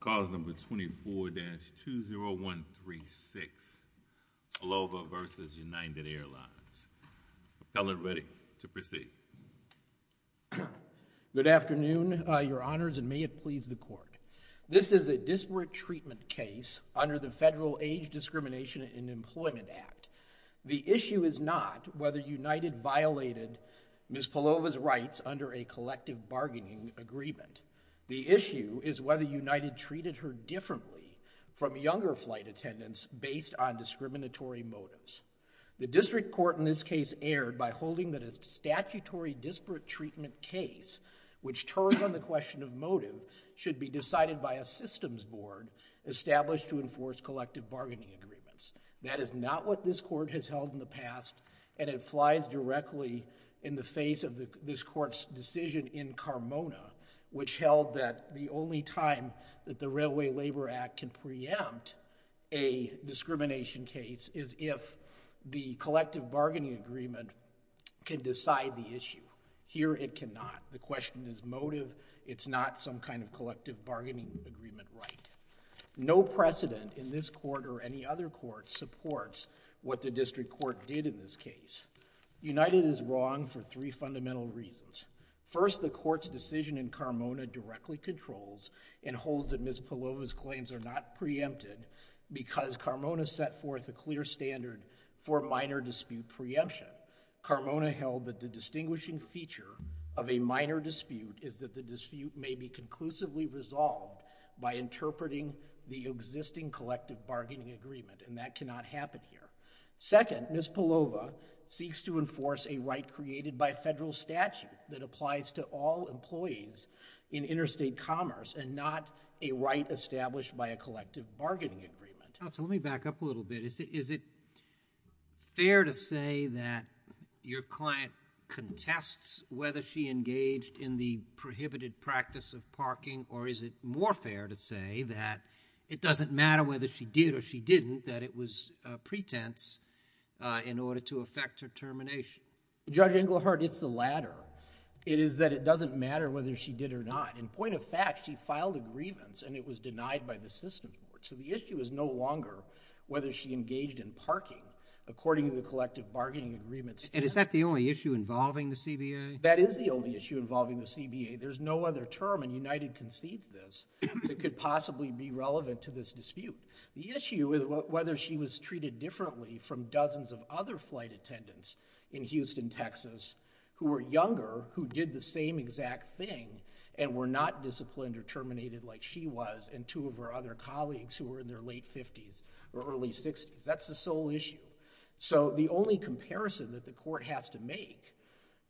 Good afternoon, your honors, and may it please the court. This is a disparate treatment case under the Federal Age Discrimination and Employment Act. The issue is not whether United violated Ms. Polova's rights under a collective bargaining agreement. The issue is whether United treated her differently from younger flight attendants based on discriminatory motives. The district court in this case erred by holding that a statutory disparate treatment case which turned on the question of motive should be decided by a systems board established to enforce collective bargaining agreements. That is not what this court has held in the past, and it flies directly in the face of this court's decision in Carmona, which held that the only time that the Railway Labor Act can preempt a discrimination case is if the collective bargaining agreement can decide the issue. Here it cannot. The question is motive. It's not some kind of collective bargaining agreement right. No precedent in this court or any other court supports what the district court did in this case. United is wrong for three fundamental reasons. First, the court's decision in Carmona directly controls and holds that Ms. Polova's claims are not preempted because Carmona set forth a clear standard for minor dispute preemption. Carmona held that the distinguishing feature of a minor dispute is that the dispute may be conclusively resolved by interpreting the existing collective bargaining agreement, and that cannot happen here. Second, Ms. Polova seeks to enforce a right created by federal statute that applies to all employees in interstate commerce and not a right established by a collective bargaining agreement. Counsel, let me back up a little bit. Is it fair to say that your client contests whether she engaged in the prohibited practice of parking, or is it more fair to say that it doesn't matter whether she did or she didn't, that it was a pretense in order to affect her termination? Judge Englehart, it's the latter. It is that it doesn't matter whether she did or not. In point of fact, she filed a grievance, and it was denied by the system court. So the issue is no longer whether she engaged in parking, according to the collective bargaining agreements. And is that the only issue involving the CBA? That is the only issue involving the CBA. There's no other term, and United concedes this, that could possibly be relevant to this dispute. The issue is whether she was treated differently from dozens of other flight attendants in Houston, Texas, who were younger, who did the same exact thing, and were not disciplined or terminated like she was, and two of her other colleagues who were in their late 50s or early 60s. That's the sole issue. So the only comparison that the court has to make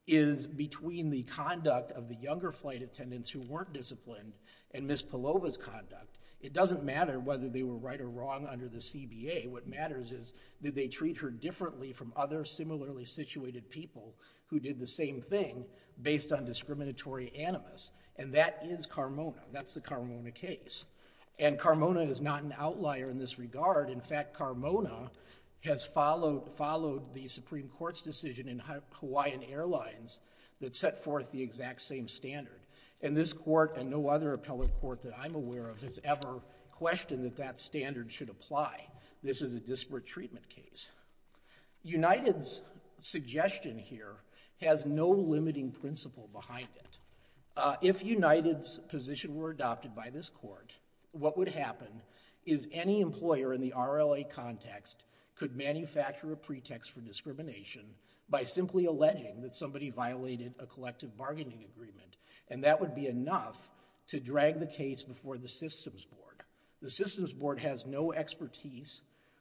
is between the conduct of the younger flight attendants who weren't disciplined, and Ms. Palova's conduct. It doesn't matter whether they were right or wrong under the CBA. What matters is, did they treat her differently from other similarly situated people who did the same thing, based on discriminatory animus? And that is Carmona. That's the Carmona case. And Carmona is not an outlier in this regard. In fact, Carmona has followed the Supreme Court's decision in Hawaiian Airlines that set forth the exact same standard. And this court, and no other appellate court that I'm aware of, has ever questioned that that standard should apply. This is a disparate treatment case. United's suggestion here has no limiting principle behind it. If United's position were adopted by this court, what would happen is any employer in the RLA context could manufacture a pretext for discrimination by simply alleging that somebody violated a collective bargaining agreement. And that would be enough to drag the case before the systems board. The systems board has no expertise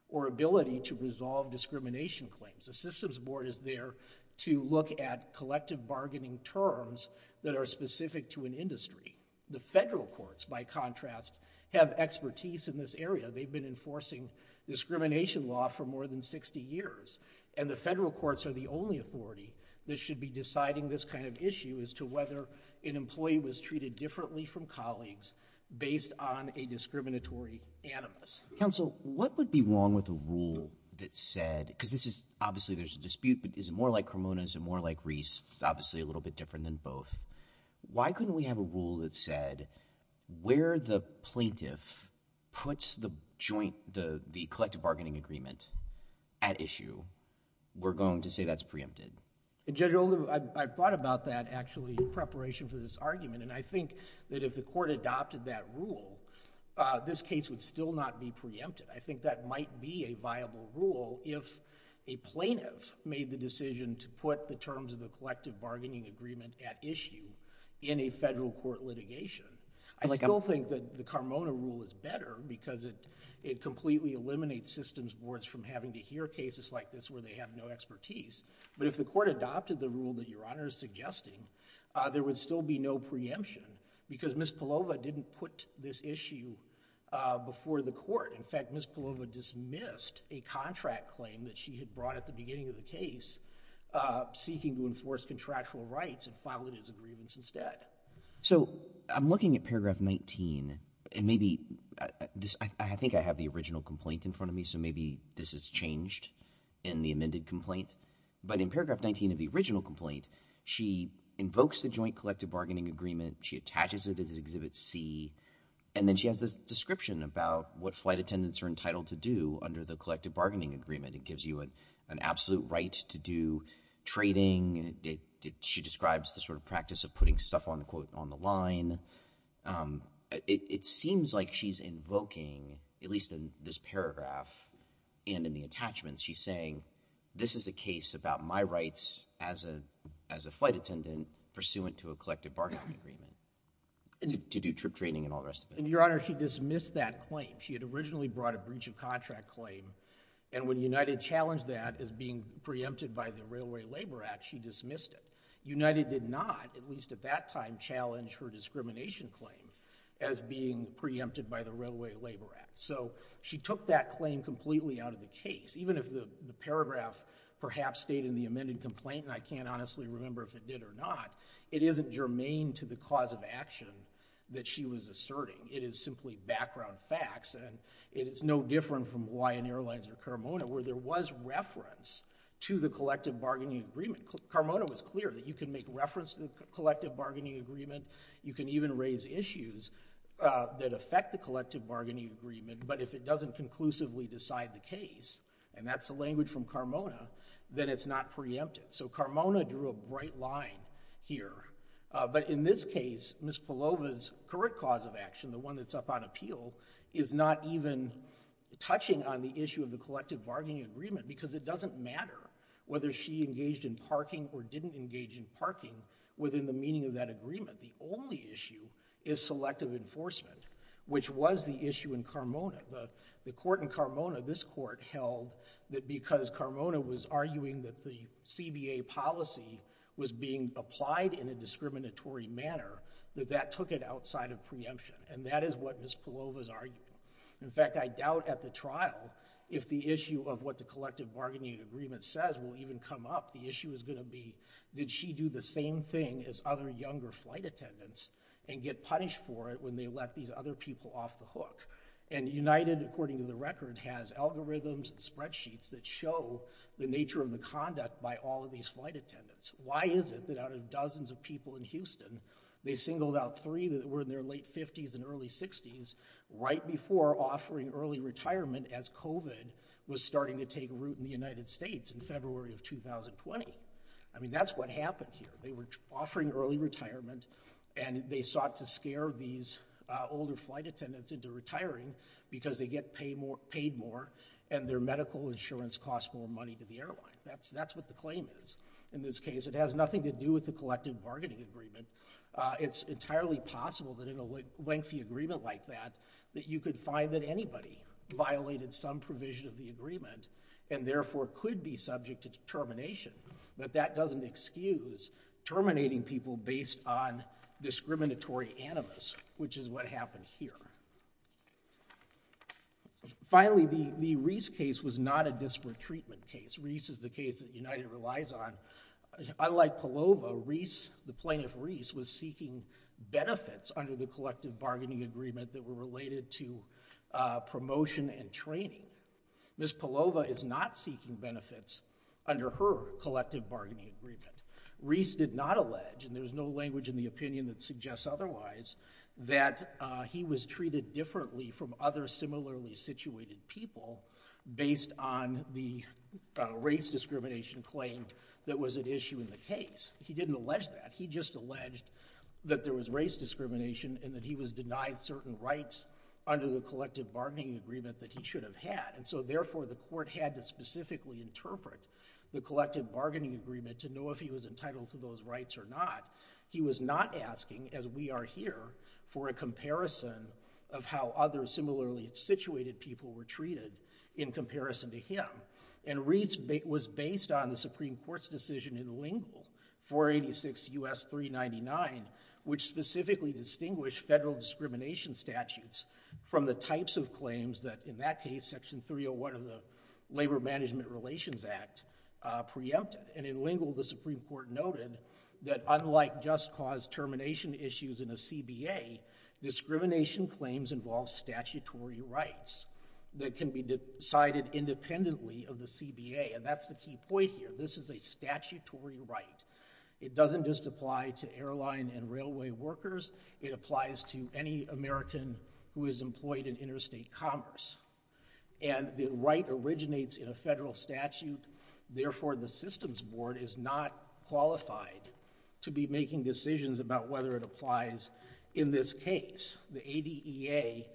or ability to resolve discrimination claims. The systems board is there to look at collective bargaining terms that are specific to an industry. The federal courts, by contrast, have expertise in this area. They've been enforcing discrimination law for more than 60 years. And the federal courts are the only authority that should be deciding this kind of issue as to whether an employee was treated differently from colleagues based on a discriminatory animus. Counsel, what would be wrong with a rule that said, because this is, obviously there's a dispute, but is it more like Carmona, is it more like Reese, it's obviously a little bit different than both. Why couldn't we have a rule that said where the plaintiff puts the joint, the collective bargaining agreement at issue, we're going to say that's preempted? Judge Oldham, I've thought about that, actually, in preparation for this argument. And I think that if the court adopted that rule, this case would still not be preempted. I think that might be a viable rule if a plaintiff made the decision to put the terms of the collective bargaining agreement at issue in a federal court litigation. I still think that the Carmona rule is better because it completely eliminates systems boards from having to hear cases like this where they have no expertise. But if the court adopted the rule that Your Honor is suggesting, there would still be no preemption because Ms. Palova didn't put this issue before the court. In fact, Ms. Palova dismissed a contract claim that she had brought at the beginning of the case, seeking to enforce contractual rights and filed it as a grievance instead. So I'm looking at paragraph 19, and maybe, I think I have the original complaint in front of me, so maybe this has changed in the amended complaint. But in paragraph 19 of the original complaint, she invokes the joint collective bargaining agreement, she attaches it as Exhibit C, and then she has this description about what flight attendants are entitled to do under the collective bargaining agreement. It gives you an absolute right to do trading. She describes the sort of practice of putting stuff on the line. It seems like she's invoking, at least in this paragraph and in the attachments, she's saying, this is a case about my rights as a flight attendant pursuant to a collective bargaining agreement to do trip trading and all the rest of it. Your Honor, she dismissed that claim. She had originally brought a breach of contract claim, and when United challenged that as being preempted by the Railway Labor Act, she dismissed it. United did not, at least at that time, challenge her discrimination claim as being preempted by the Railway Labor Act. So she took that claim completely out of the case. Even if the paragraph perhaps stayed in the amended complaint, and I can't honestly remember if it did or not, it isn't germane to the cause of action that she was asserting. It is simply background facts, and it is no different from Hawaiian Airlines or Carmona, where there was reference to the collective bargaining agreement. Carmona was clear that you can make reference to the collective bargaining agreement. You can even raise issues that affect the collective bargaining agreement, but if it doesn't conclusively decide the case, and that's the language from Carmona, then it's not preempted. So Carmona drew a bright line here, but in this case, Ms. Palova's current cause of action, the one that's up on appeal, is not even touching on the issue of the collective bargaining agreement, because it doesn't matter whether she engaged in parking or didn't engage in parking within the meaning of that agreement. The only issue is selective enforcement, which was the issue in Carmona. The court in Carmona, this court, held that because Carmona was arguing that the CBA policy was being applied in a discriminatory manner, that that took it outside of preemption, and that is what Ms. Palova's arguing. In fact, I doubt at the trial if the issue of what the collective bargaining agreement says will even come up. The issue is going to be, did she do the same thing as other younger flight attendants and get punished for it when they let these other people off the hook? And United, according to the record, has algorithms and spreadsheets that show the nature of the conduct by all of these flight attendants. Why is it that out of dozens of people in Houston, they singled out three that were in their late 50s and early 60s, right before offering early retirement as COVID was starting to take root in the United States in February of 2020? I mean, that's what happened here. They were offering early retirement, and they sought to scare these older flight attendants into retiring because they get paid more, and their medical insurance costs more money to the airline. That's what the claim is. In this case, it has nothing to do with the collective bargaining agreement. It's entirely possible that in a lengthy agreement like that, that you could find that anybody violated some provision of the agreement, and therefore could be subject to termination. But that doesn't excuse terminating people based on discriminatory animus, which is what happened here. Finally, the Reese case was not a disparate treatment case. Reese is the case that United relies on. Unlike Palova, Reese, the plaintiff Reese, was seeking benefits under the collective bargaining agreement that were related to promotion and training. Ms. Palova is not seeking benefits under her collective bargaining agreement. Reese did not allege, and there's no language in the opinion that suggests otherwise, that he was treated differently from other similarly situated people based on the race discrimination claim that was at issue in the case. He didn't allege that. He just alleged that there was race discrimination, and that he was denied certain rights under the collective bargaining agreement that he should have had. Therefore, the court had to specifically interpret the collective bargaining agreement to know if he was entitled to those rights or not. He was not asking, as we are here, for a comparison of how other similarly situated people were treated in comparison to him. And Reese was based on the Supreme Court's decision in Lingle, 486 U.S. 399, which specifically distinguished federal discrimination statutes from the types of claims that, in that case, Section 301 of the Labor Management Relations Act, preempted. And in Lingle, the Supreme Court noted that unlike just cause termination issues in a And that's the key point here. This is a statutory right. It doesn't just apply to airline and railway workers. It applies to any American who is employed in interstate commerce. And the right originates in a federal statute. Therefore, the systems board is not qualified to be making decisions about whether it applies in this case. The ADEA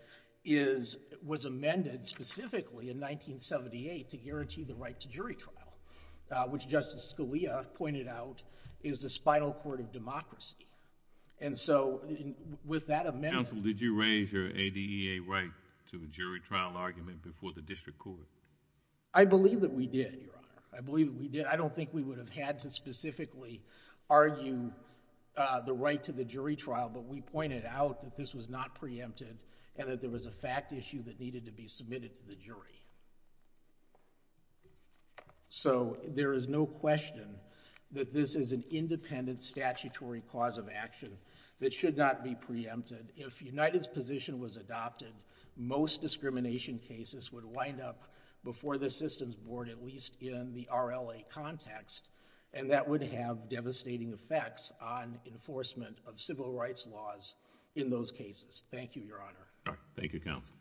was amended specifically in 1978 to guarantee the right to jury trial, which Justice Scalia pointed out is the spinal cord of democracy. And so with that amendment... Counsel, did you raise your ADEA right to a jury trial argument before the district court? I believe that we did, Your Honor. I believe that we did. I don't think we would have had to specifically argue the right to the jury trial, but we pointed out that this was not preempted and that there was a fact issue that needed to be submitted to the jury. So there is no question that this is an independent statutory cause of action that should not be preempted. If United's position was adopted, most discrimination cases would wind up before the systems board, at least in the RLA context, and that would have devastating effects on enforcement of civil rights laws in those cases. Thank you, Your Honor. Thank you, Counsel.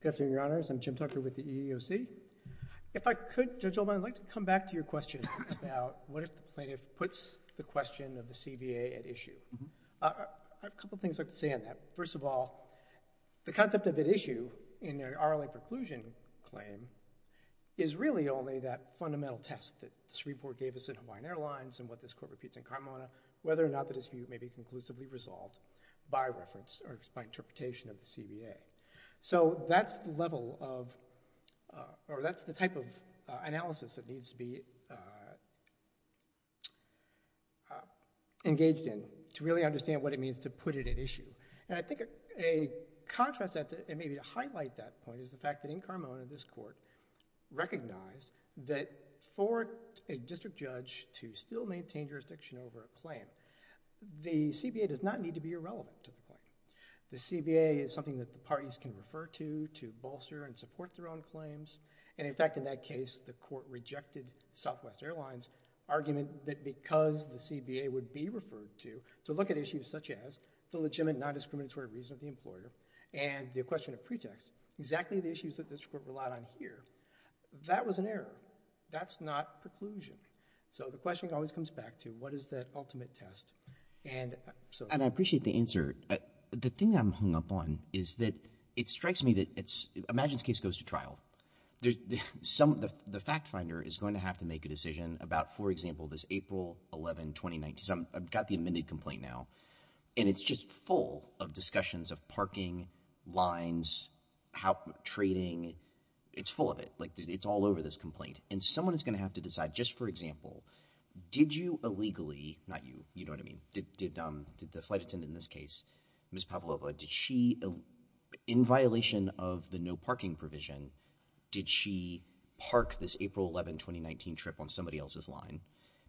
Good afternoon, Your Honors. I'm Jim Tucker with the EEOC. If I could, Judge Oldman, I'd like to come back to your question about what if the plaintiff puts the question of the CBA at issue. I have a couple of things I'd like to say on that. First of all, the concept of at issue in the RLA preclusion claim is really only that fundamental test that this report gave us in Hawaiian Airlines and what this court repeats in Kamauana, whether or not the dispute may be conclusively resolved by reference or by interpretation of the CBA. So that's the level of, or that's the type of analysis that needs to be engaged in to really understand what it means to put it at issue. And I think a contrast, and maybe to highlight that point, is the fact that in Kamauana, this court recognized that for a district judge to still maintain jurisdiction over a claim, the CBA does not need to be irrelevant to the claim. The CBA is something that the parties can refer to, to bolster and support their own claims. And in fact, in that case, the court rejected Southwest Airlines' argument that because the CBA would be referred to, to look at issues such as the legitimate non-discriminatory reason of the employer and the question of pretext, exactly the issues that this court relied on here, that was an error. That's not preclusion. So the question always comes back to what is that ultimate test? And so— And I appreciate the answer. The thing I'm hung up on is that it strikes me that it's—imagine this case goes to trial. The fact finder is going to have to make a decision about, for example, this April 11, 2019. So I've got the amended complaint now, and it's just full of discussions of parking, lines, trading. It's full of it. It's all over this complaint. And someone is going to have to decide, just for example, did you illegally—not you, you know what I mean—did the flight attendant in this case, Ms. Pavlova, did she, in violation of the no parking provision, did she park this April 11, 2019 trip on somebody else's line?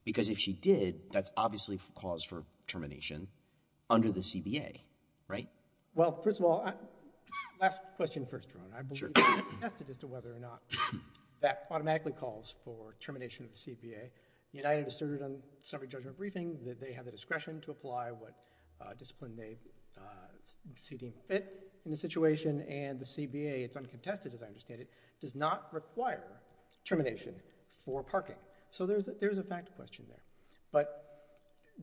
Because if she did, that's obviously cause for termination under the CBA, right? Well, first of all, last question first, Ron. I believe— —the test is to whether or not that automatically calls for termination of the CBA. United asserted on summary judgment briefing that they have the discretion to apply what discipline they see fit in the situation, and the CBA—it's uncontested, as I understand it—does not require termination for parking. So there's a fact question there. But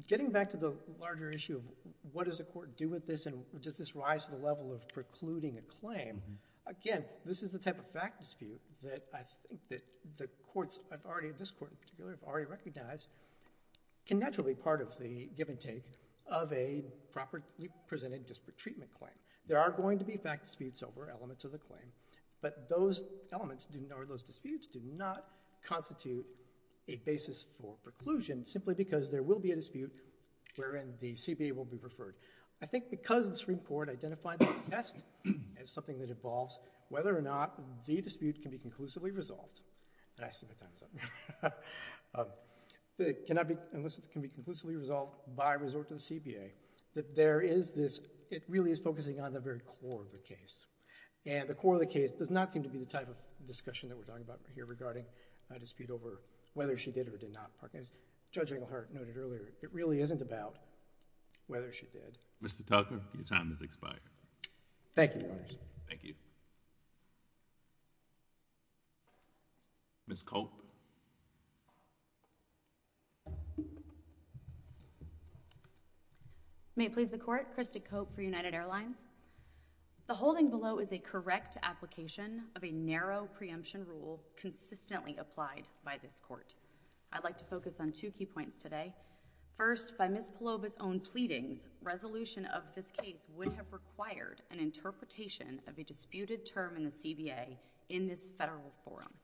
getting back to the larger issue of what does the court do with this, and does this rise to the level of precluding a claim, again, this is the type of fact dispute that I think that the courts have already—this court in particular—have already recognized can naturally be part of the give-and-take of a properly presented disparate treatment claim. There are going to be fact disputes over elements of the claim, but those elements or those disputes do not constitute a basis for preclusion, simply because there will be a dispute wherein the CBA will be preferred. I think because the Supreme Court identified this test as something that involves whether or not the dispute can be conclusively resolved—and I see my time is up—can I be—unless it's going to be conclusively resolved by resort to the CBA, that there is this—it really is focusing on the very core of the case, and the core of the case does not seem to be the type of discussion that we're talking about here regarding a dispute over whether she did or did not park. As Judge Englehart noted earlier, it really isn't about whether she did. Mr. Tucker, your time has expired. Thank you, Your Honors. Thank you. Ms. Culp? May it please the Court, Krista Culp for United Airlines. The holding below is a correct application of a narrow preemption rule consistently applied by this Court. I'd like to focus on two key points today. First, by Ms. Palloba's own pleadings, resolution of this case would have required an interpretation of a disputed term in the CBA in this Federal forum.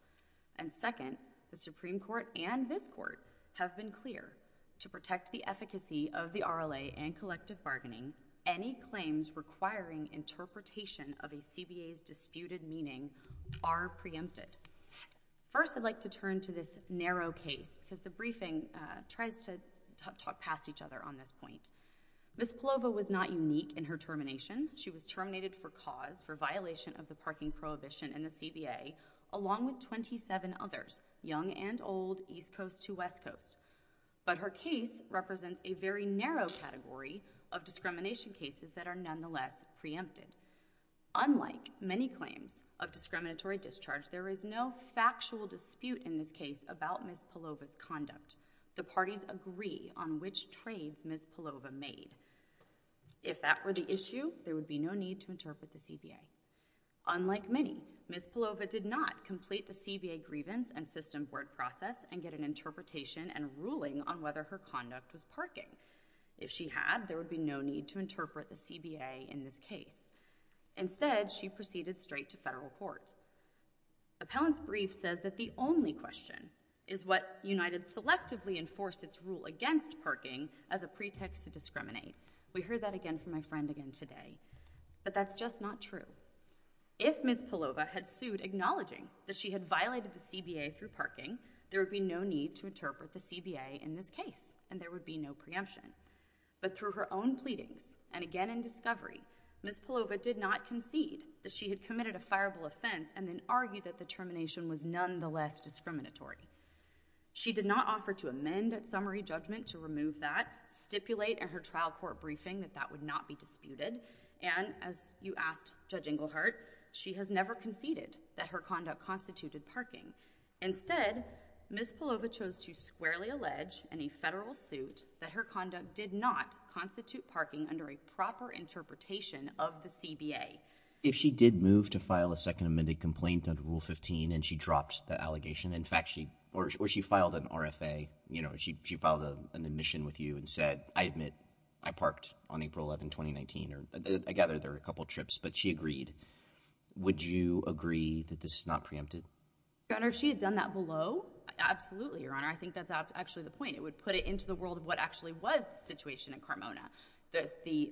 And second, the Supreme Court and this Court have been clear. To protect the efficacy of the RLA and collective bargaining, any claims requiring interpretation of a CBA's disputed meaning are preempted. First, I'd like to turn to this narrow case, because the briefing tries to talk past each other on this point. Ms. Palloba was not unique in her termination. She was terminated for cause, for violation of the parking prohibition in the CBA, along with 27 others, young and old, East Coast to West Coast. But her case represents a very narrow category of discrimination cases that are nonetheless preempted. Unlike many claims of discriminatory discharge, there is no factual dispute in this case about Ms. Palloba's conduct. The parties agree on which trades Ms. Palloba made. If that were the issue, there would be no need to interpret the CBA. Unlike many, Ms. Palloba did not complete the CBA grievance and system board process and get an interpretation and ruling on whether her conduct was parking. If she had, there would be no need to interpret the CBA in this case. Instead, she proceeded straight to Federal court. Appellant's brief says that the only question is what United selectively enforced its rule against parking as a pretext to discriminate. We heard that again from my friend again today. But that's just not true. If Ms. Palloba had sued acknowledging that she had violated the CBA through parking, there would be no need to interpret the CBA in this case, and there would be no preemption. But through her own pleadings, and again in discovery, Ms. Palloba did not concede that she had committed a fireable offense and then argued that the termination was nonetheless discriminatory. She did not offer to amend that summary judgment to remove that, stipulate in her trial court briefing that that would not be disputed. And as you asked Judge Engelhardt, she has never conceded that her conduct constituted parking. Instead, Ms. Palloba chose to squarely allege in a Federal suit that her conduct did not constitute parking under a proper interpretation of the CBA. If she did move to file a second amended complaint under Rule 15 and she dropped the allegation, in fact, or she filed an RFA, you know, she filed an admission with you and said, I admit that I parked on April 11, 2019. I gather there were a couple trips, but she agreed. Would you agree that this is not preempted? Your Honor, if she had done that below, absolutely, Your Honor. I think that's actually the point. It would put it into the world of what actually was the situation in Carmona. The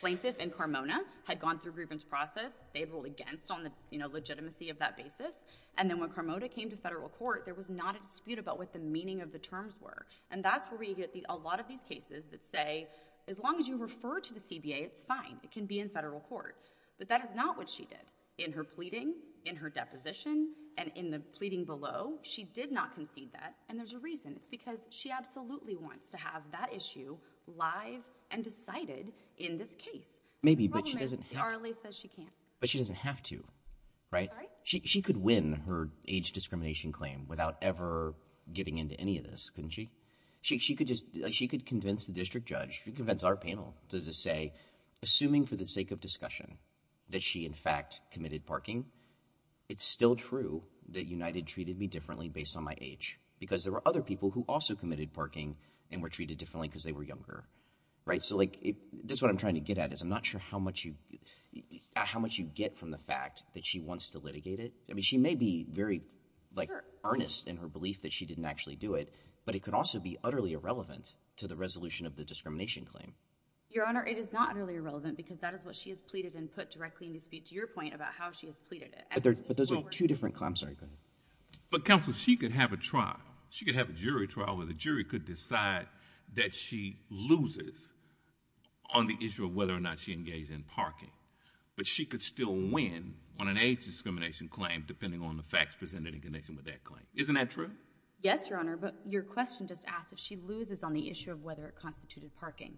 plaintiff in Carmona had gone through a grievance process. They had ruled against on the, you know, legitimacy of that basis. And then when Carmona came to Federal court, there was not a dispute about what the meaning of the terms were. And that's where we get a lot of these cases that say, as long as you refer to the CBA, it's fine. It can be in Federal court. But that is not what she did. In her pleading, in her deposition, and in the pleading below, she did not concede that. And there's a reason. It's because she absolutely wants to have that issue live and decided in this case. Maybe but she doesn't. RLA says she can't. But she doesn't have to, right? She could win her age discrimination claim without ever getting into any of this, couldn't she? She could convince the district judge, convince our panel to say, assuming for the sake of discussion that she in fact committed parking, it's still true that United treated me differently based on my age. Because there were other people who also committed parking and were treated differently because they were younger. Right? So this is what I'm trying to get at is I'm not sure how much you get from the fact that she wants to litigate it. I mean, she may be very earnest in her belief that she didn't actually do it, but it could also be utterly irrelevant to the resolution of the discrimination claim. Your Honor, it is not really irrelevant because that is what she has pleaded and put directly in the speech. Your point about how she has pleaded it. But those are two different claims. But counsel, she could have a trial. She could have a jury trial where the jury could decide that she loses on the issue of whether or not she engaged in parking, but she could still win on an age discrimination claim depending on the facts presented in connection with that claim. Isn't that true? Yes, Your Honor. But your question just asked if she loses on the issue of whether it constituted parking.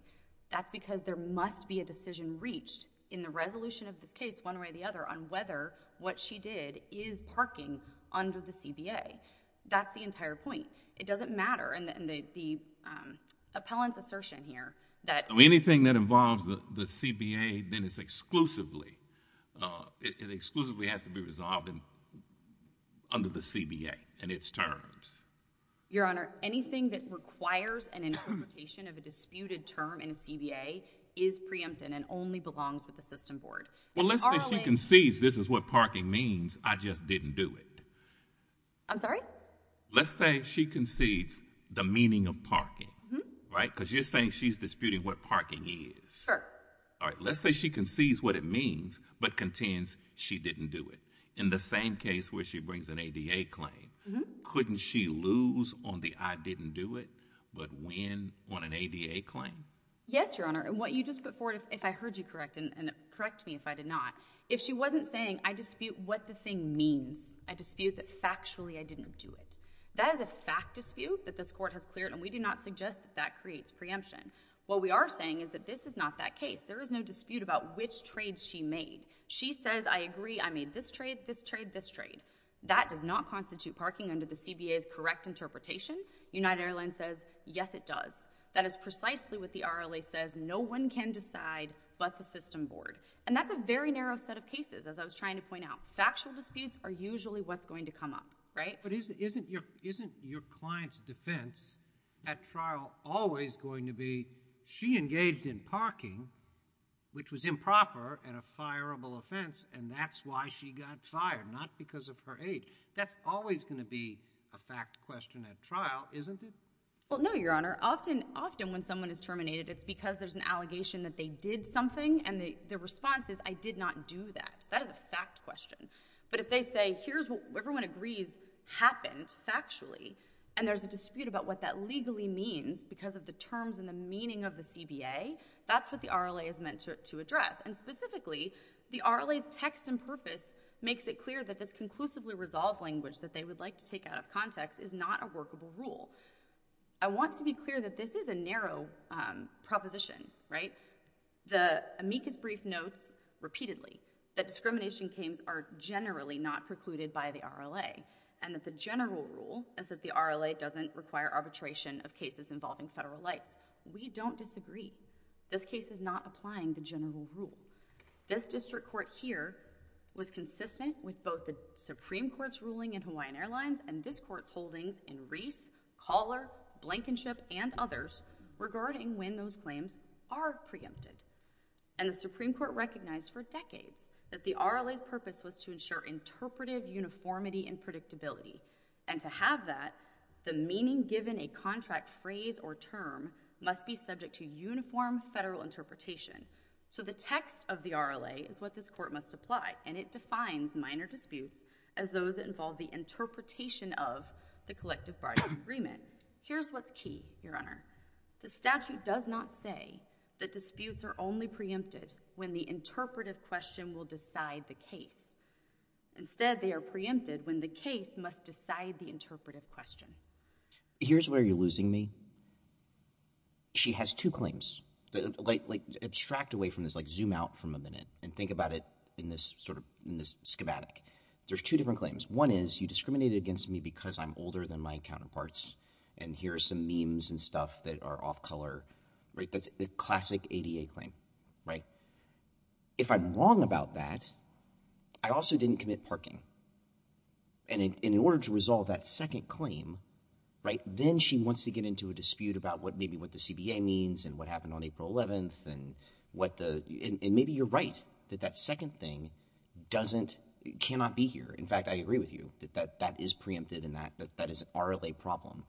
That's because there must be a decision reached in the resolution of this case, one way or the other, on whether what she did is parking under the CBA. That's the entire point. It doesn't matter. And the appellant's assertion here that... Anything that involves the CBA, then it's exclusively, it exclusively has to be resolved under the CBA and its terms. Your Honor, anything that requires an interpretation of a disputed term in a CBA is preempted and only belongs with the system board. Well, let's say she concedes this is what parking means, I just didn't do it. I'm sorry? Let's say she concedes the meaning of parking, right, because you're saying she's disputing what parking is. Sure. All right. Let's say she concedes what it means but contends she didn't do it. In the same case where she brings an ADA claim, couldn't she lose on the I didn't do it, but win on an ADA claim? Yes, Your Honor. And what you just put forward, if I heard you correct, and correct me if I did not, if she wasn't saying I dispute what the thing means, I dispute that factually I didn't do it, that is a fact dispute that this Court has cleared, and we do not suggest that that creates preemption. What we are saying is that this is not that case. There is no dispute about which trade she made. She says, I agree, I made this trade, this trade, this trade. That does not constitute parking under the CBA's correct interpretation. United Airlines says, yes, it does. That is precisely what the RLA says, no one can decide but the system board. And that's a very narrow set of cases, as I was trying to point out. Factual disputes are usually what's going to come up, right? But isn't your client's defense at trial always going to be she engaged in parking which was improper and a fireable offense, and that's why she got fired, not because of her age. That's always going to be a fact question at trial, isn't it? Well, no, Your Honor, often when someone is terminated it's because there's an allegation that they did something and the response is, I did not do that. That is a fact question. But if they say, here's what everyone agrees happened factually, and there's a dispute about what that legally means because of the terms and the meaning of the CBA, that's what the RLA is meant to address. And specifically, the RLA's text and purpose makes it clear that this conclusively resolved language that they would like to take out of context is not a workable rule. I want to be clear that this is a narrow proposition, right? The amicus brief notes repeatedly that discrimination cases are generally not precluded by the RLA, and that the general rule is that the RLA doesn't require arbitration of cases involving federal lights. We don't disagree. This case is not applying the general rule. This district court here was consistent with both the Supreme Court's ruling in Hawaiian Airlines and this court's holdings in Reese, Collar, Blankenship, and others regarding when those claims are preempted. And the Supreme Court recognized for decades that the RLA's purpose was to ensure interpretive uniformity and predictability, and to have that, the meaning given a contract phrase or term must be subject to uniform federal interpretation. So the text of the RLA is what this court must apply, and it defines minor disputes as those that involve the interpretation of the collective bargaining agreement. Here's what's key, Your Honor. The statute does not say that disputes are only preempted when the interpretive question will decide the case. Instead, they are preempted when the case must decide the interpretive question. Here's where you're losing me. She has two claims. Abstract away from this, like zoom out from a minute, and think about it in this schematic. There's two different claims. One is, you discriminated against me because I'm older than my counterparts, and here are some memes and stuff that are off-color, right? That's a classic ADA claim, right? If I'm wrong about that, I also didn't commit parking. And in order to resolve that second claim, right, then she wants to get into a dispute about maybe what the CBA means and what happened on April 11th and what the—and maybe you're right that that second thing doesn't—cannot be here. In fact, I agree with you that that is preempted and that is an RLA problem.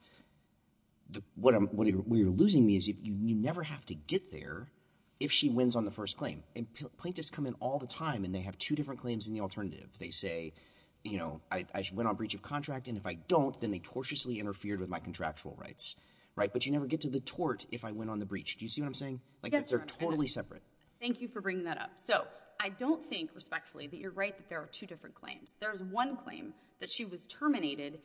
What you're losing me is you never have to get there if she wins on the first claim. And plaintiffs come in all the time, and they have two different claims in the alternative. They say, you know, I went on breach of contract, and if I don't, then they tortiously interfered with my contractual rights, right? But you never get to the tort if I went on the breach. Do you see what I'm saying? Yes, Your Honor. Like, they're totally separate. Thank you for bringing that up. So, I don't think, respectfully, that you're right that there are two different claims. There's one claim that she was terminated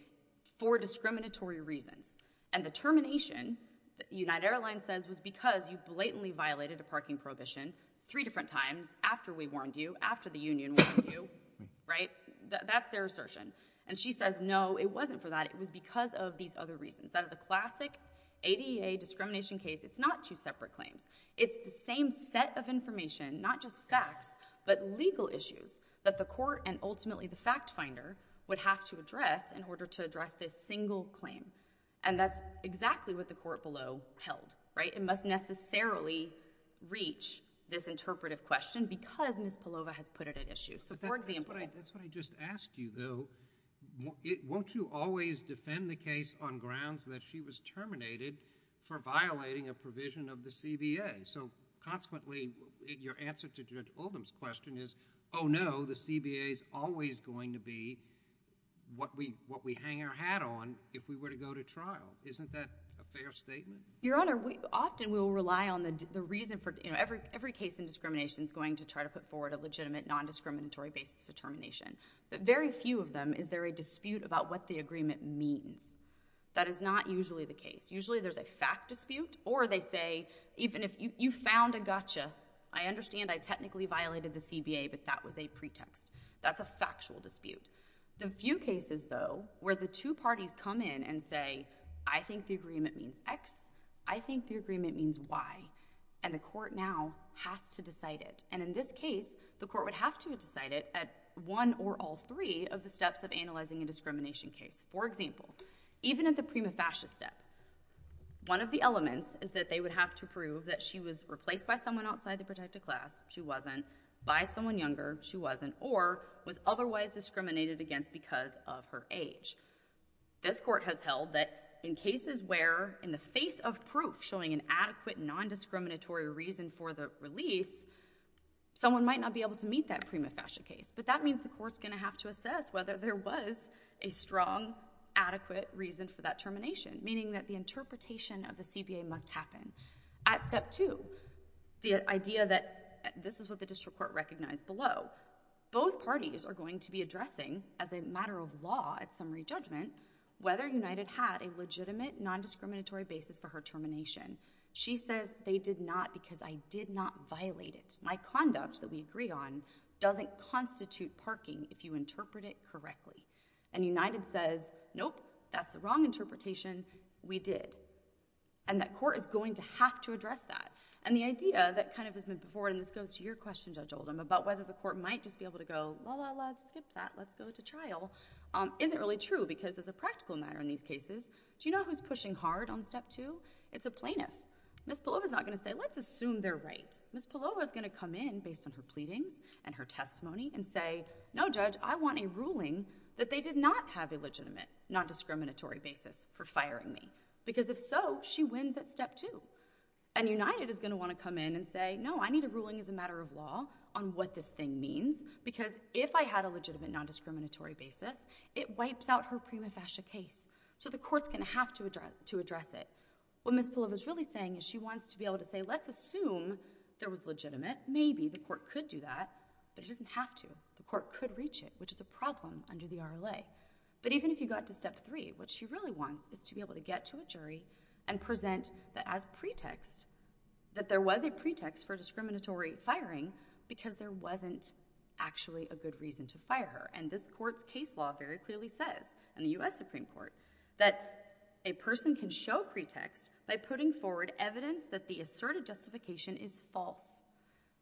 for discriminatory reasons. And the termination, United Airlines says, was because you blatantly violated a parking prohibition three different times after we warned you, after the union warned you, right? That's their assertion. And she says, no, it wasn't for that. It was because of these other reasons. That is a classic ADA discrimination case. It's not two separate claims. It's the same set of information, not just facts, but legal issues that the court and ultimately the fact finder would have to address in order to address this single claim. And that's exactly what the court below held, right? The interpretation must necessarily reach this interpretive question because Ms. Palova has put it at issue. So, for example— But that's what I just asked you, though. Won't you always defend the case on grounds that she was terminated for violating a provision of the CBA? So, consequently, your answer to Judge Oldham's question is, oh, no, the CBA is always going to be what we hang our hat on if we were to go to trial. Isn't that a fair statement? Your Honor, we often will rely on the reason for—you know, every case in discrimination is going to try to put forward a legitimate, non-discriminatory basis for termination. But very few of them, is there a dispute about what the agreement means? That is not usually the case. Usually there's a fact dispute, or they say, even if you found a gotcha, I understand I technically violated the CBA, but that was a pretext. That's a factual dispute. The few cases, though, where the two parties come in and say, I think the agreement means X, I think the agreement means Y, and the court now has to decide it. And in this case, the court would have to decide it at one or all three of the steps of analyzing a discrimination case. For example, even at the prima facie step, one of the elements is that they would have to prove that she was replaced by someone outside the protected class—she wasn't—by someone younger—she wasn't—or was otherwise discriminated against because of her age. This court has held that in cases where, in the face of proof showing an adequate, non-discriminatory reason for the release, someone might not be able to meet that prima facie case. But that means the court's going to have to assess whether there was a strong, adequate reason for that termination, meaning that the interpretation of the CBA must happen. At step two, the idea that—this is what the district court recognized below—both parties are going to be addressing, as a matter of law at summary judgment, whether United had a legitimate, non-discriminatory basis for her termination. She says, they did not because I did not violate it. My conduct that we agree on doesn't constitute parking if you interpret it correctly. And United says, nope, that's the wrong interpretation. We did. And that court is going to have to address that. And the idea that kind of has been put forward—and this goes to your question, Judge Oldham, about whether the court might just be able to go, la-la-la, skip that, let's go to trial—isn't really true because, as a practical matter in these cases, do you know who's pushing hard on step two? It's a plaintiff. Ms. Palova's not going to say, let's assume they're right. Ms. Palova's going to come in, based on her pleadings and her testimony, and say, no, Judge, I want a ruling that they did not have a legitimate, non-discriminatory basis for firing me. Because if so, she wins at step two. And United is going to want to come in and say, no, I need a ruling as a matter of law on what this thing means, because if I had a legitimate, non-discriminatory basis, it wipes out her prima facie case. So the court's going to have to address it. What Ms. Palova's really saying is she wants to be able to say, let's assume there was legitimate—maybe the court could do that, but it doesn't have to. The court could reach it, which is a problem under the RLA. But even if you got to step three, what she really wants is to be able to get to a jury and present that as pretext, that there was a pretext for discriminatory firing, because there wasn't actually a good reason to fire her. And this court's case law very clearly says, in the US Supreme Court, that a person can show pretext by putting forward evidence that the asserted justification is false.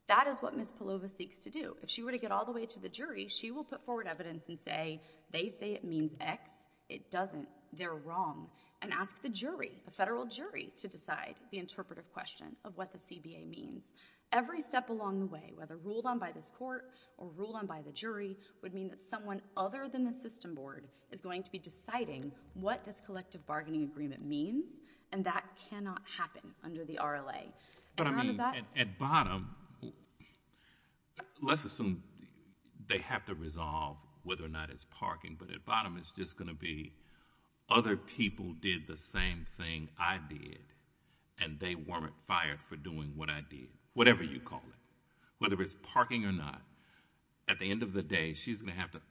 That is what Ms. Palova seeks to do. If she were to get all the way to the jury, she will put forward evidence and say, they say it means X, it doesn't, they're wrong, and ask the jury, the federal jury, to decide the interpretive question of what the CBA means. Every step along the way, whether ruled on by this court or ruled on by the jury, would mean that someone other than the system board is going to be deciding what this collective bargaining agreement means, and that cannot happen under the RLA. And under that— Let's assume they have to resolve whether or not it's parking, but at bottom it's just going to be, other people did the same thing I did, and they weren't fired for doing what I did. Whatever you call it. Whether it's parking or not, at the end of the day, she's going to have to,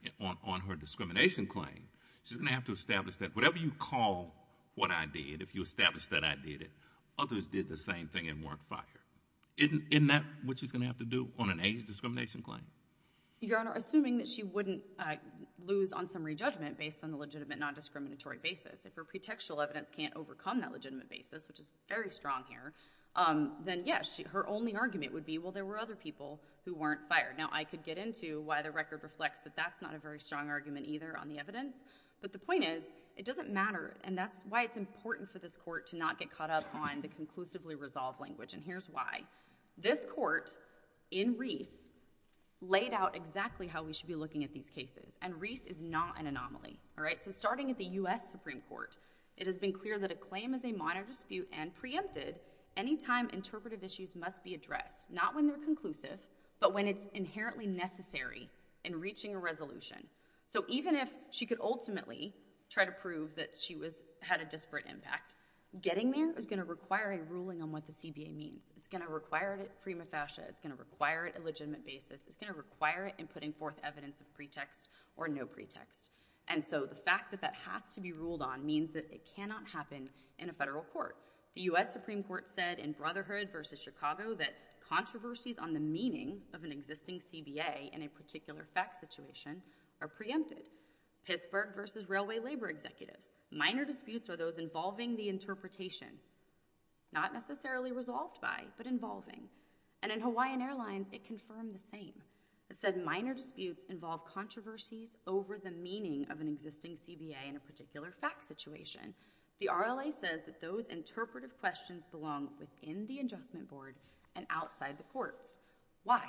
on her discrimination claim, she's going to have to establish that whatever you call what I did, if you establish that I did it, others did the same thing and weren't fired. Isn't that what she's going to have to do on an AIDS discrimination claim? Your Honor, assuming that she wouldn't lose on some re-judgment based on a legitimate non-discriminatory basis, if her pretextual evidence can't overcome that legitimate basis, which is very strong here, then yes, her only argument would be, well, there were other people who weren't fired. Now, I could get into why the record reflects that that's not a very strong argument either on the evidence, but the point is, it doesn't matter, and that's why it's important for this court to not get caught up on the conclusively resolved language. Here's why. This court, in Reese, laid out exactly how we should be looking at these cases, and Reese is not an anomaly. Starting at the U.S. Supreme Court, it has been clear that a claim is a minor dispute and preempted any time interpretive issues must be addressed, not when they're conclusive, but when it's inherently necessary in reaching a resolution. Even if she could ultimately try to prove that she had a disparate impact, getting there is going to require a ruling on what the CBA means. It's going to require it at prima facie. It's going to require it at a legitimate basis. It's going to require it in putting forth evidence of pretext or no pretext, and so the fact that that has to be ruled on means that it cannot happen in a federal court. The U.S. Supreme Court said in Brotherhood v. Chicago that controversies on the meaning of an existing CBA in a particular fact situation are preempted. Pittsburgh v. Railway Labor Executives, minor disputes are those involving the interpretation, not necessarily resolved by, but involving, and in Hawaiian Airlines, it confirmed the same. It said minor disputes involve controversies over the meaning of an existing CBA in a particular fact situation. The RLA says that those interpretive questions belong within the adjustment board and outside the courts. Why?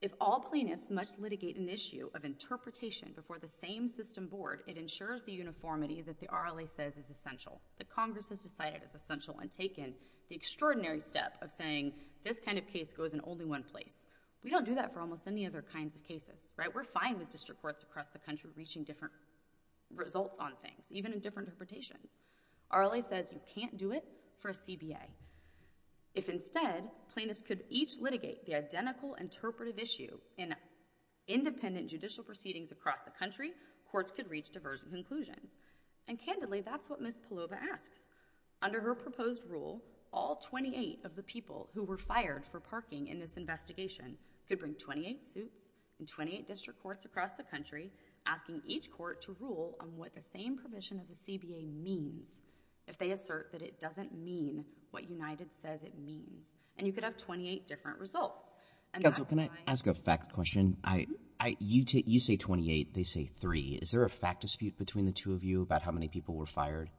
If all plaintiffs must litigate an issue of interpretation before the same system board, it ensures the uniformity that the RLA says is essential, that Congress has decided is essential and taken the extraordinary step of saying, this kind of case goes in only one place. We don't do that for almost any other kinds of cases, right? We're fine with district courts across the country reaching different results on things, even in different interpretations. RLA says you can't do it for a CBA. If instead, plaintiffs could each litigate the identical interpretive issue in independent judicial proceedings across the country, courts could reach divergent conclusions. And candidly, that's what Ms. Palova asks. Under her proposed rule, all 28 of the people who were fired for parking in this investigation could bring 28 suits in 28 district courts across the country, asking each court to rule on what the same provision of the CBA means if they assert that it doesn't mean what United says it means. And you could have 28 different results. And that's why— Counsel, can I ask a fact question? You say 28. They say three. Is there a fact dispute between the two of you about how many people were fired?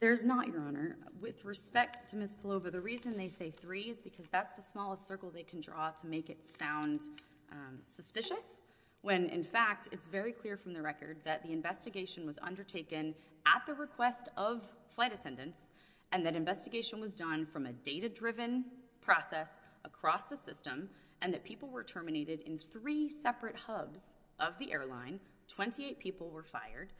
There's not, Your Honor. With respect to Ms. Palova, the reason they say three is because that's the smallest circle they can draw to make it sound suspicious, when in fact, it's very clear from the record that the investigation was undertaken at the request of flight attendants, and that investigation was done from a data-driven process across the system, and that people were terminated in three separate hubs of the airline, 28 people were fired.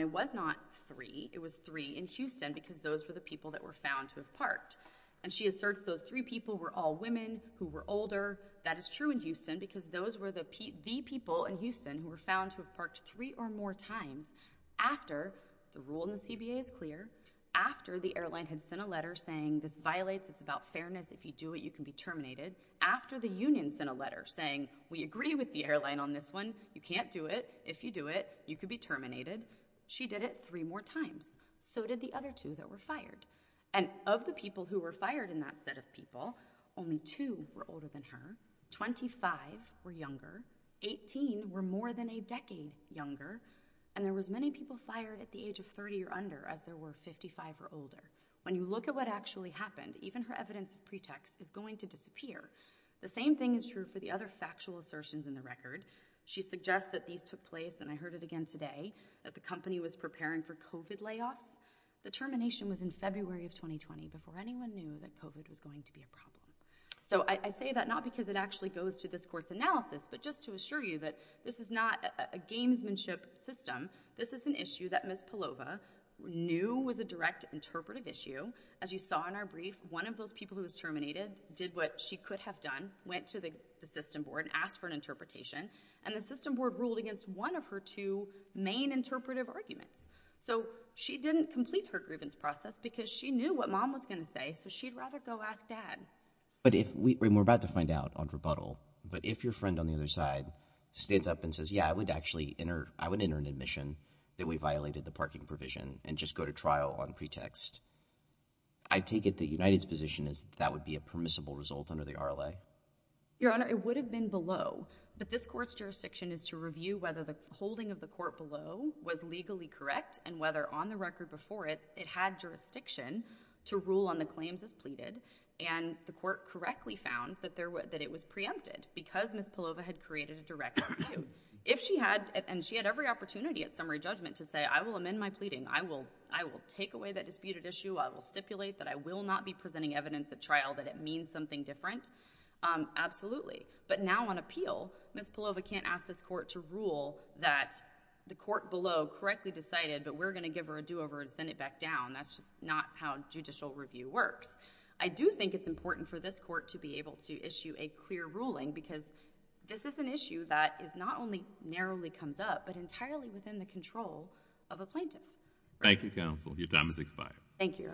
It was not three. It was three in Houston, because those were the people that were found to have parked. And she asserts those three people were all women who were older. That is true in Houston, because those were the people in Houston who were found to have parked three or more times after the rule in the CBA is clear, after the airline had sent a letter saying, this violates, it's about fairness, if you do it, you can be terminated, after the union sent a letter saying, we agree with the airline on this one, you can't do it, if you do it, you could be terminated. She did it three more times. So did the other two that were fired. And of the people who were fired in that set of people, only two were older than her, 25 were younger, 18 were more than a decade younger, and there was many people fired at the age of 30 or under, as there were 55 or older. When you look at what actually happened, even her evidence of pretext is going to disappear. The same thing is true for the other factual assertions in the record. She suggests that these took place, and I heard it again today, that the company was preparing for COVID layoffs. The termination was in February of 2020, before anyone knew that COVID was going to be a problem. So I say that not because it actually goes to this court's analysis, but just to assure you that this is not a gamesmanship system. This is an issue that Ms. Palova knew was a direct interpretive issue. As you saw in our brief, one of those people who was terminated did what she could have done, went to the system board and asked for an interpretation, and the system board ruled against one of her two main interpretive arguments. So she didn't complete her grievance process because she knew what mom was going to say, so she'd rather go ask dad. But if we were about to find out on rebuttal, but if your friend on the other side stands up and says, yeah, I would actually enter, I would enter an admission that we violated the parking provision and just go to trial on pretext, I take it the United's position is that would be a permissible result under the RLA? Your Honor, it would have been below, but this court's jurisdiction is to review whether the holding of the court below was legally correct and whether on the record before it, it had jurisdiction to rule on the claims as pleaded, and the court correctly found that it was preempted because Ms. Palova had created a direct issue. If she had, and she had every opportunity at summary judgment to say, I will amend my pleading, I will take away that disputed issue, I will stipulate that I will not be presenting evidence at trial that it means something different, absolutely. But now on appeal, Ms. Palova can't ask this court to rule that the court below correctly decided, but we're going to give her a do-over and send it back down, that's just not how judicial review works. I do think it's important for this court to be able to issue a clear ruling because this is an issue that is not only narrowly comes up, but entirely within the control of a plaintiff. Thank you, counsel. Your time has expired. Thank you,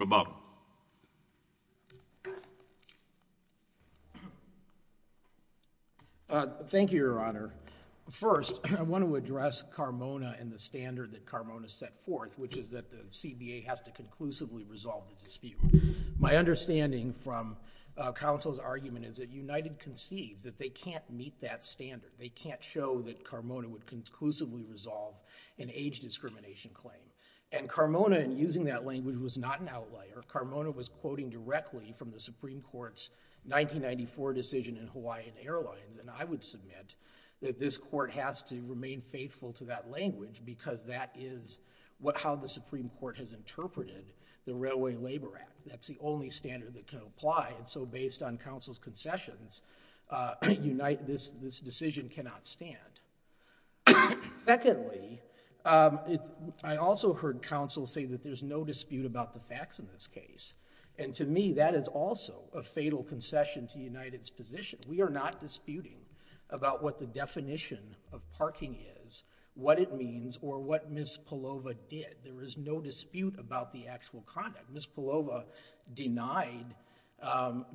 Your Honor. Roboto. Thank you, Your Honor. First, I want to address Carmona and the standard that Carmona set forth, which is that the CBA has to conclusively resolve the dispute. My understanding from counsel's argument is that United concedes that they can't meet that standard. They can't show that Carmona would conclusively resolve an age discrimination claim. And Carmona, in using that language, was not an outlier. Carmona was quoting directly from the Supreme Court's 1994 decision in Hawaiian Airlines, and I would submit that this court has to remain faithful to that language because that is how the Supreme Court has interpreted the Railway Labor Act. That's the only standard that can apply, and so based on counsel's concessions, this decision cannot stand. Secondly, I also heard counsel say that there's no dispute about the facts in this case. And to me, that is also a fatal concession to United's position. We are not disputing about what the definition of parking is, what it means, or what Ms. Palova did. There is no dispute about the actual conduct. Ms. Palova denied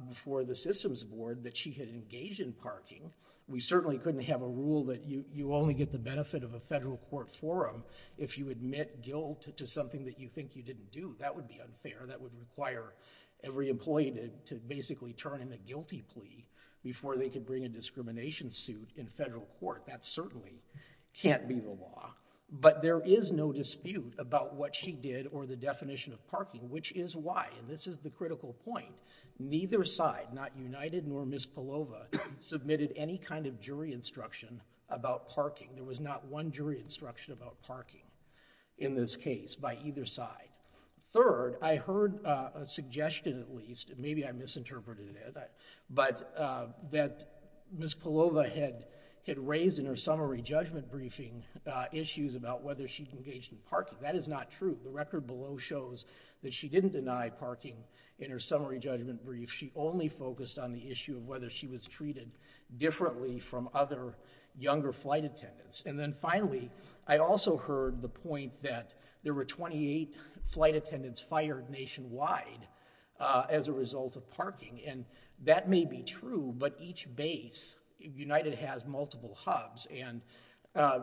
before the systems board that she had engaged in parking. We certainly couldn't have a rule that you only get the benefit of a federal court forum if you admit guilt to something that you think you didn't do. That would be unfair. That would require every employee to basically turn in a guilty plea before they could bring a discrimination suit in federal court. That certainly can't be the law. But there is no dispute about what she did or the definition of parking, which is why, and this is the critical point, neither side, not United nor Ms. Palova, submitted any kind of jury instruction about parking. There was not one jury instruction about parking in this case by either side. Third, I heard a suggestion at least, and maybe I misinterpreted it, but that Ms. Palova had raised in her summary judgment briefing issues about whether she engaged in parking. That is not true. The record below shows that she didn't deny parking in her summary judgment brief. She only focused on the issue of whether she was treated differently from other younger flight attendants. And then finally, I also heard the point that there were 28 flight attendants fired nationwide as a result of parking. And that may be true, but each base, United has multiple hubs, and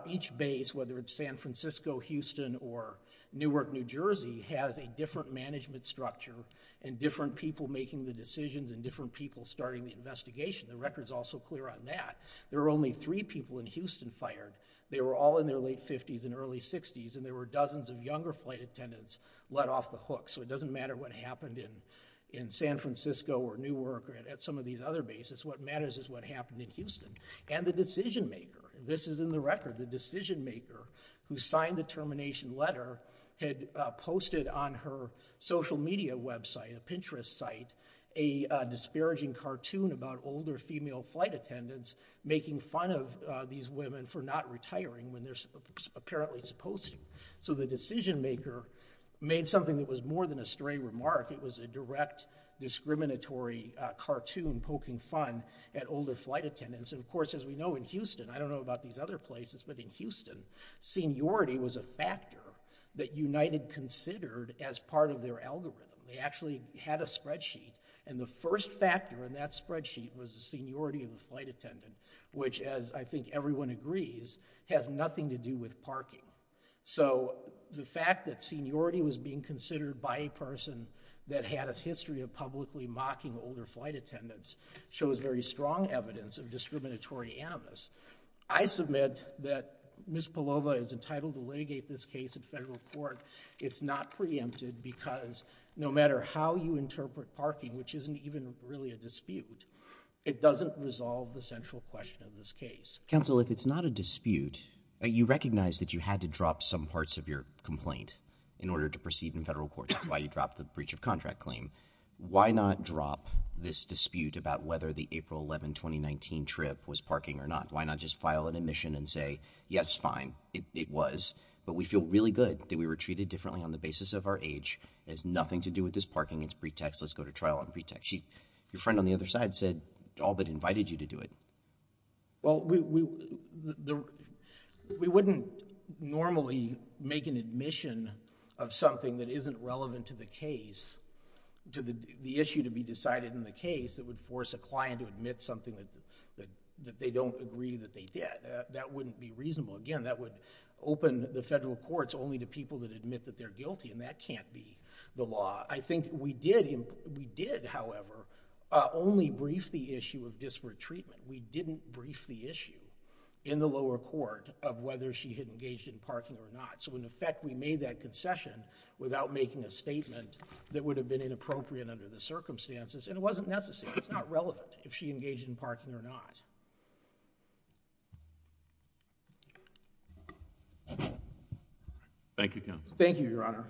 each base, whether it's San Francisco, Houston, or Newark, New Jersey, has a different management structure and different people making the decisions and different people starting the investigation. The record's also clear on that. There were only three people in Houston fired. They were all in their late 50s and early 60s, and there were dozens of younger flight attendants let off the hook. So it doesn't matter what happened in San Francisco or Newark or at some of these other bases. What matters is what happened in Houston. And the decision maker, this is in the record, the decision maker who signed the termination letter had posted on her social media website, a Pinterest site, a disparaging cartoon about older female flight attendants making fun of these women for not retiring when they're apparently supposed to. So the decision maker made something that was more than a stray remark. It was a direct discriminatory cartoon poking fun at older flight attendants. And of course, as we know, in Houston, I don't know about these other places, but in Houston, seniority was a factor that United considered as part of their algorithm. They actually had a spreadsheet, and the first factor in that spreadsheet was the seniority of the flight attendant, which as I think everyone agrees, has nothing to do with parking. So the fact that seniority was being considered by a person that had a history of publicly mocking older flight attendants shows very strong evidence of discriminatory animus. I submit that Ms. Palova is entitled to litigate this case in federal court. It's not preempted because no matter how you interpret parking, which isn't even really a dispute, it doesn't resolve the central question of this case. Counsel, if it's not a dispute, you recognize that you had to drop some parts of your complaint in order to proceed in federal court. That's why you dropped the breach of contract claim. Why not drop this dispute about whether the April 11, 2019 trip was parking or not? Why not just file an admission and say, yes, fine, it was, but we feel really good that we were treated differently on the basis of our age. It has nothing to do with this parking. It's pretext. Let's go to trial on pretext. Your friend on the other side said, all but invited you to do it. Well, we wouldn't normally make an admission of something that isn't relevant to the case, to the issue to be decided in the case that would force a client to admit something that they don't agree that they did. That wouldn't be reasonable. Again, that would open the federal courts only to people that admit that they're guilty, and that can't be the law. I think we did, however, only brief the issue of disparate treatment. We didn't brief the issue in the lower court of whether she had engaged in parking or not. In effect, we made that concession without making a statement that would have been inappropriate under the circumstances. It wasn't necessary. It's not relevant if she engaged in parking or not. Thank you, counsel. Thank you, Your Honor.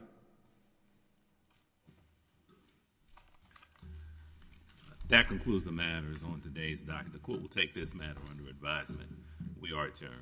That concludes the matters on today's document. The court will take this matter under advisement. We are adjourned. All rise.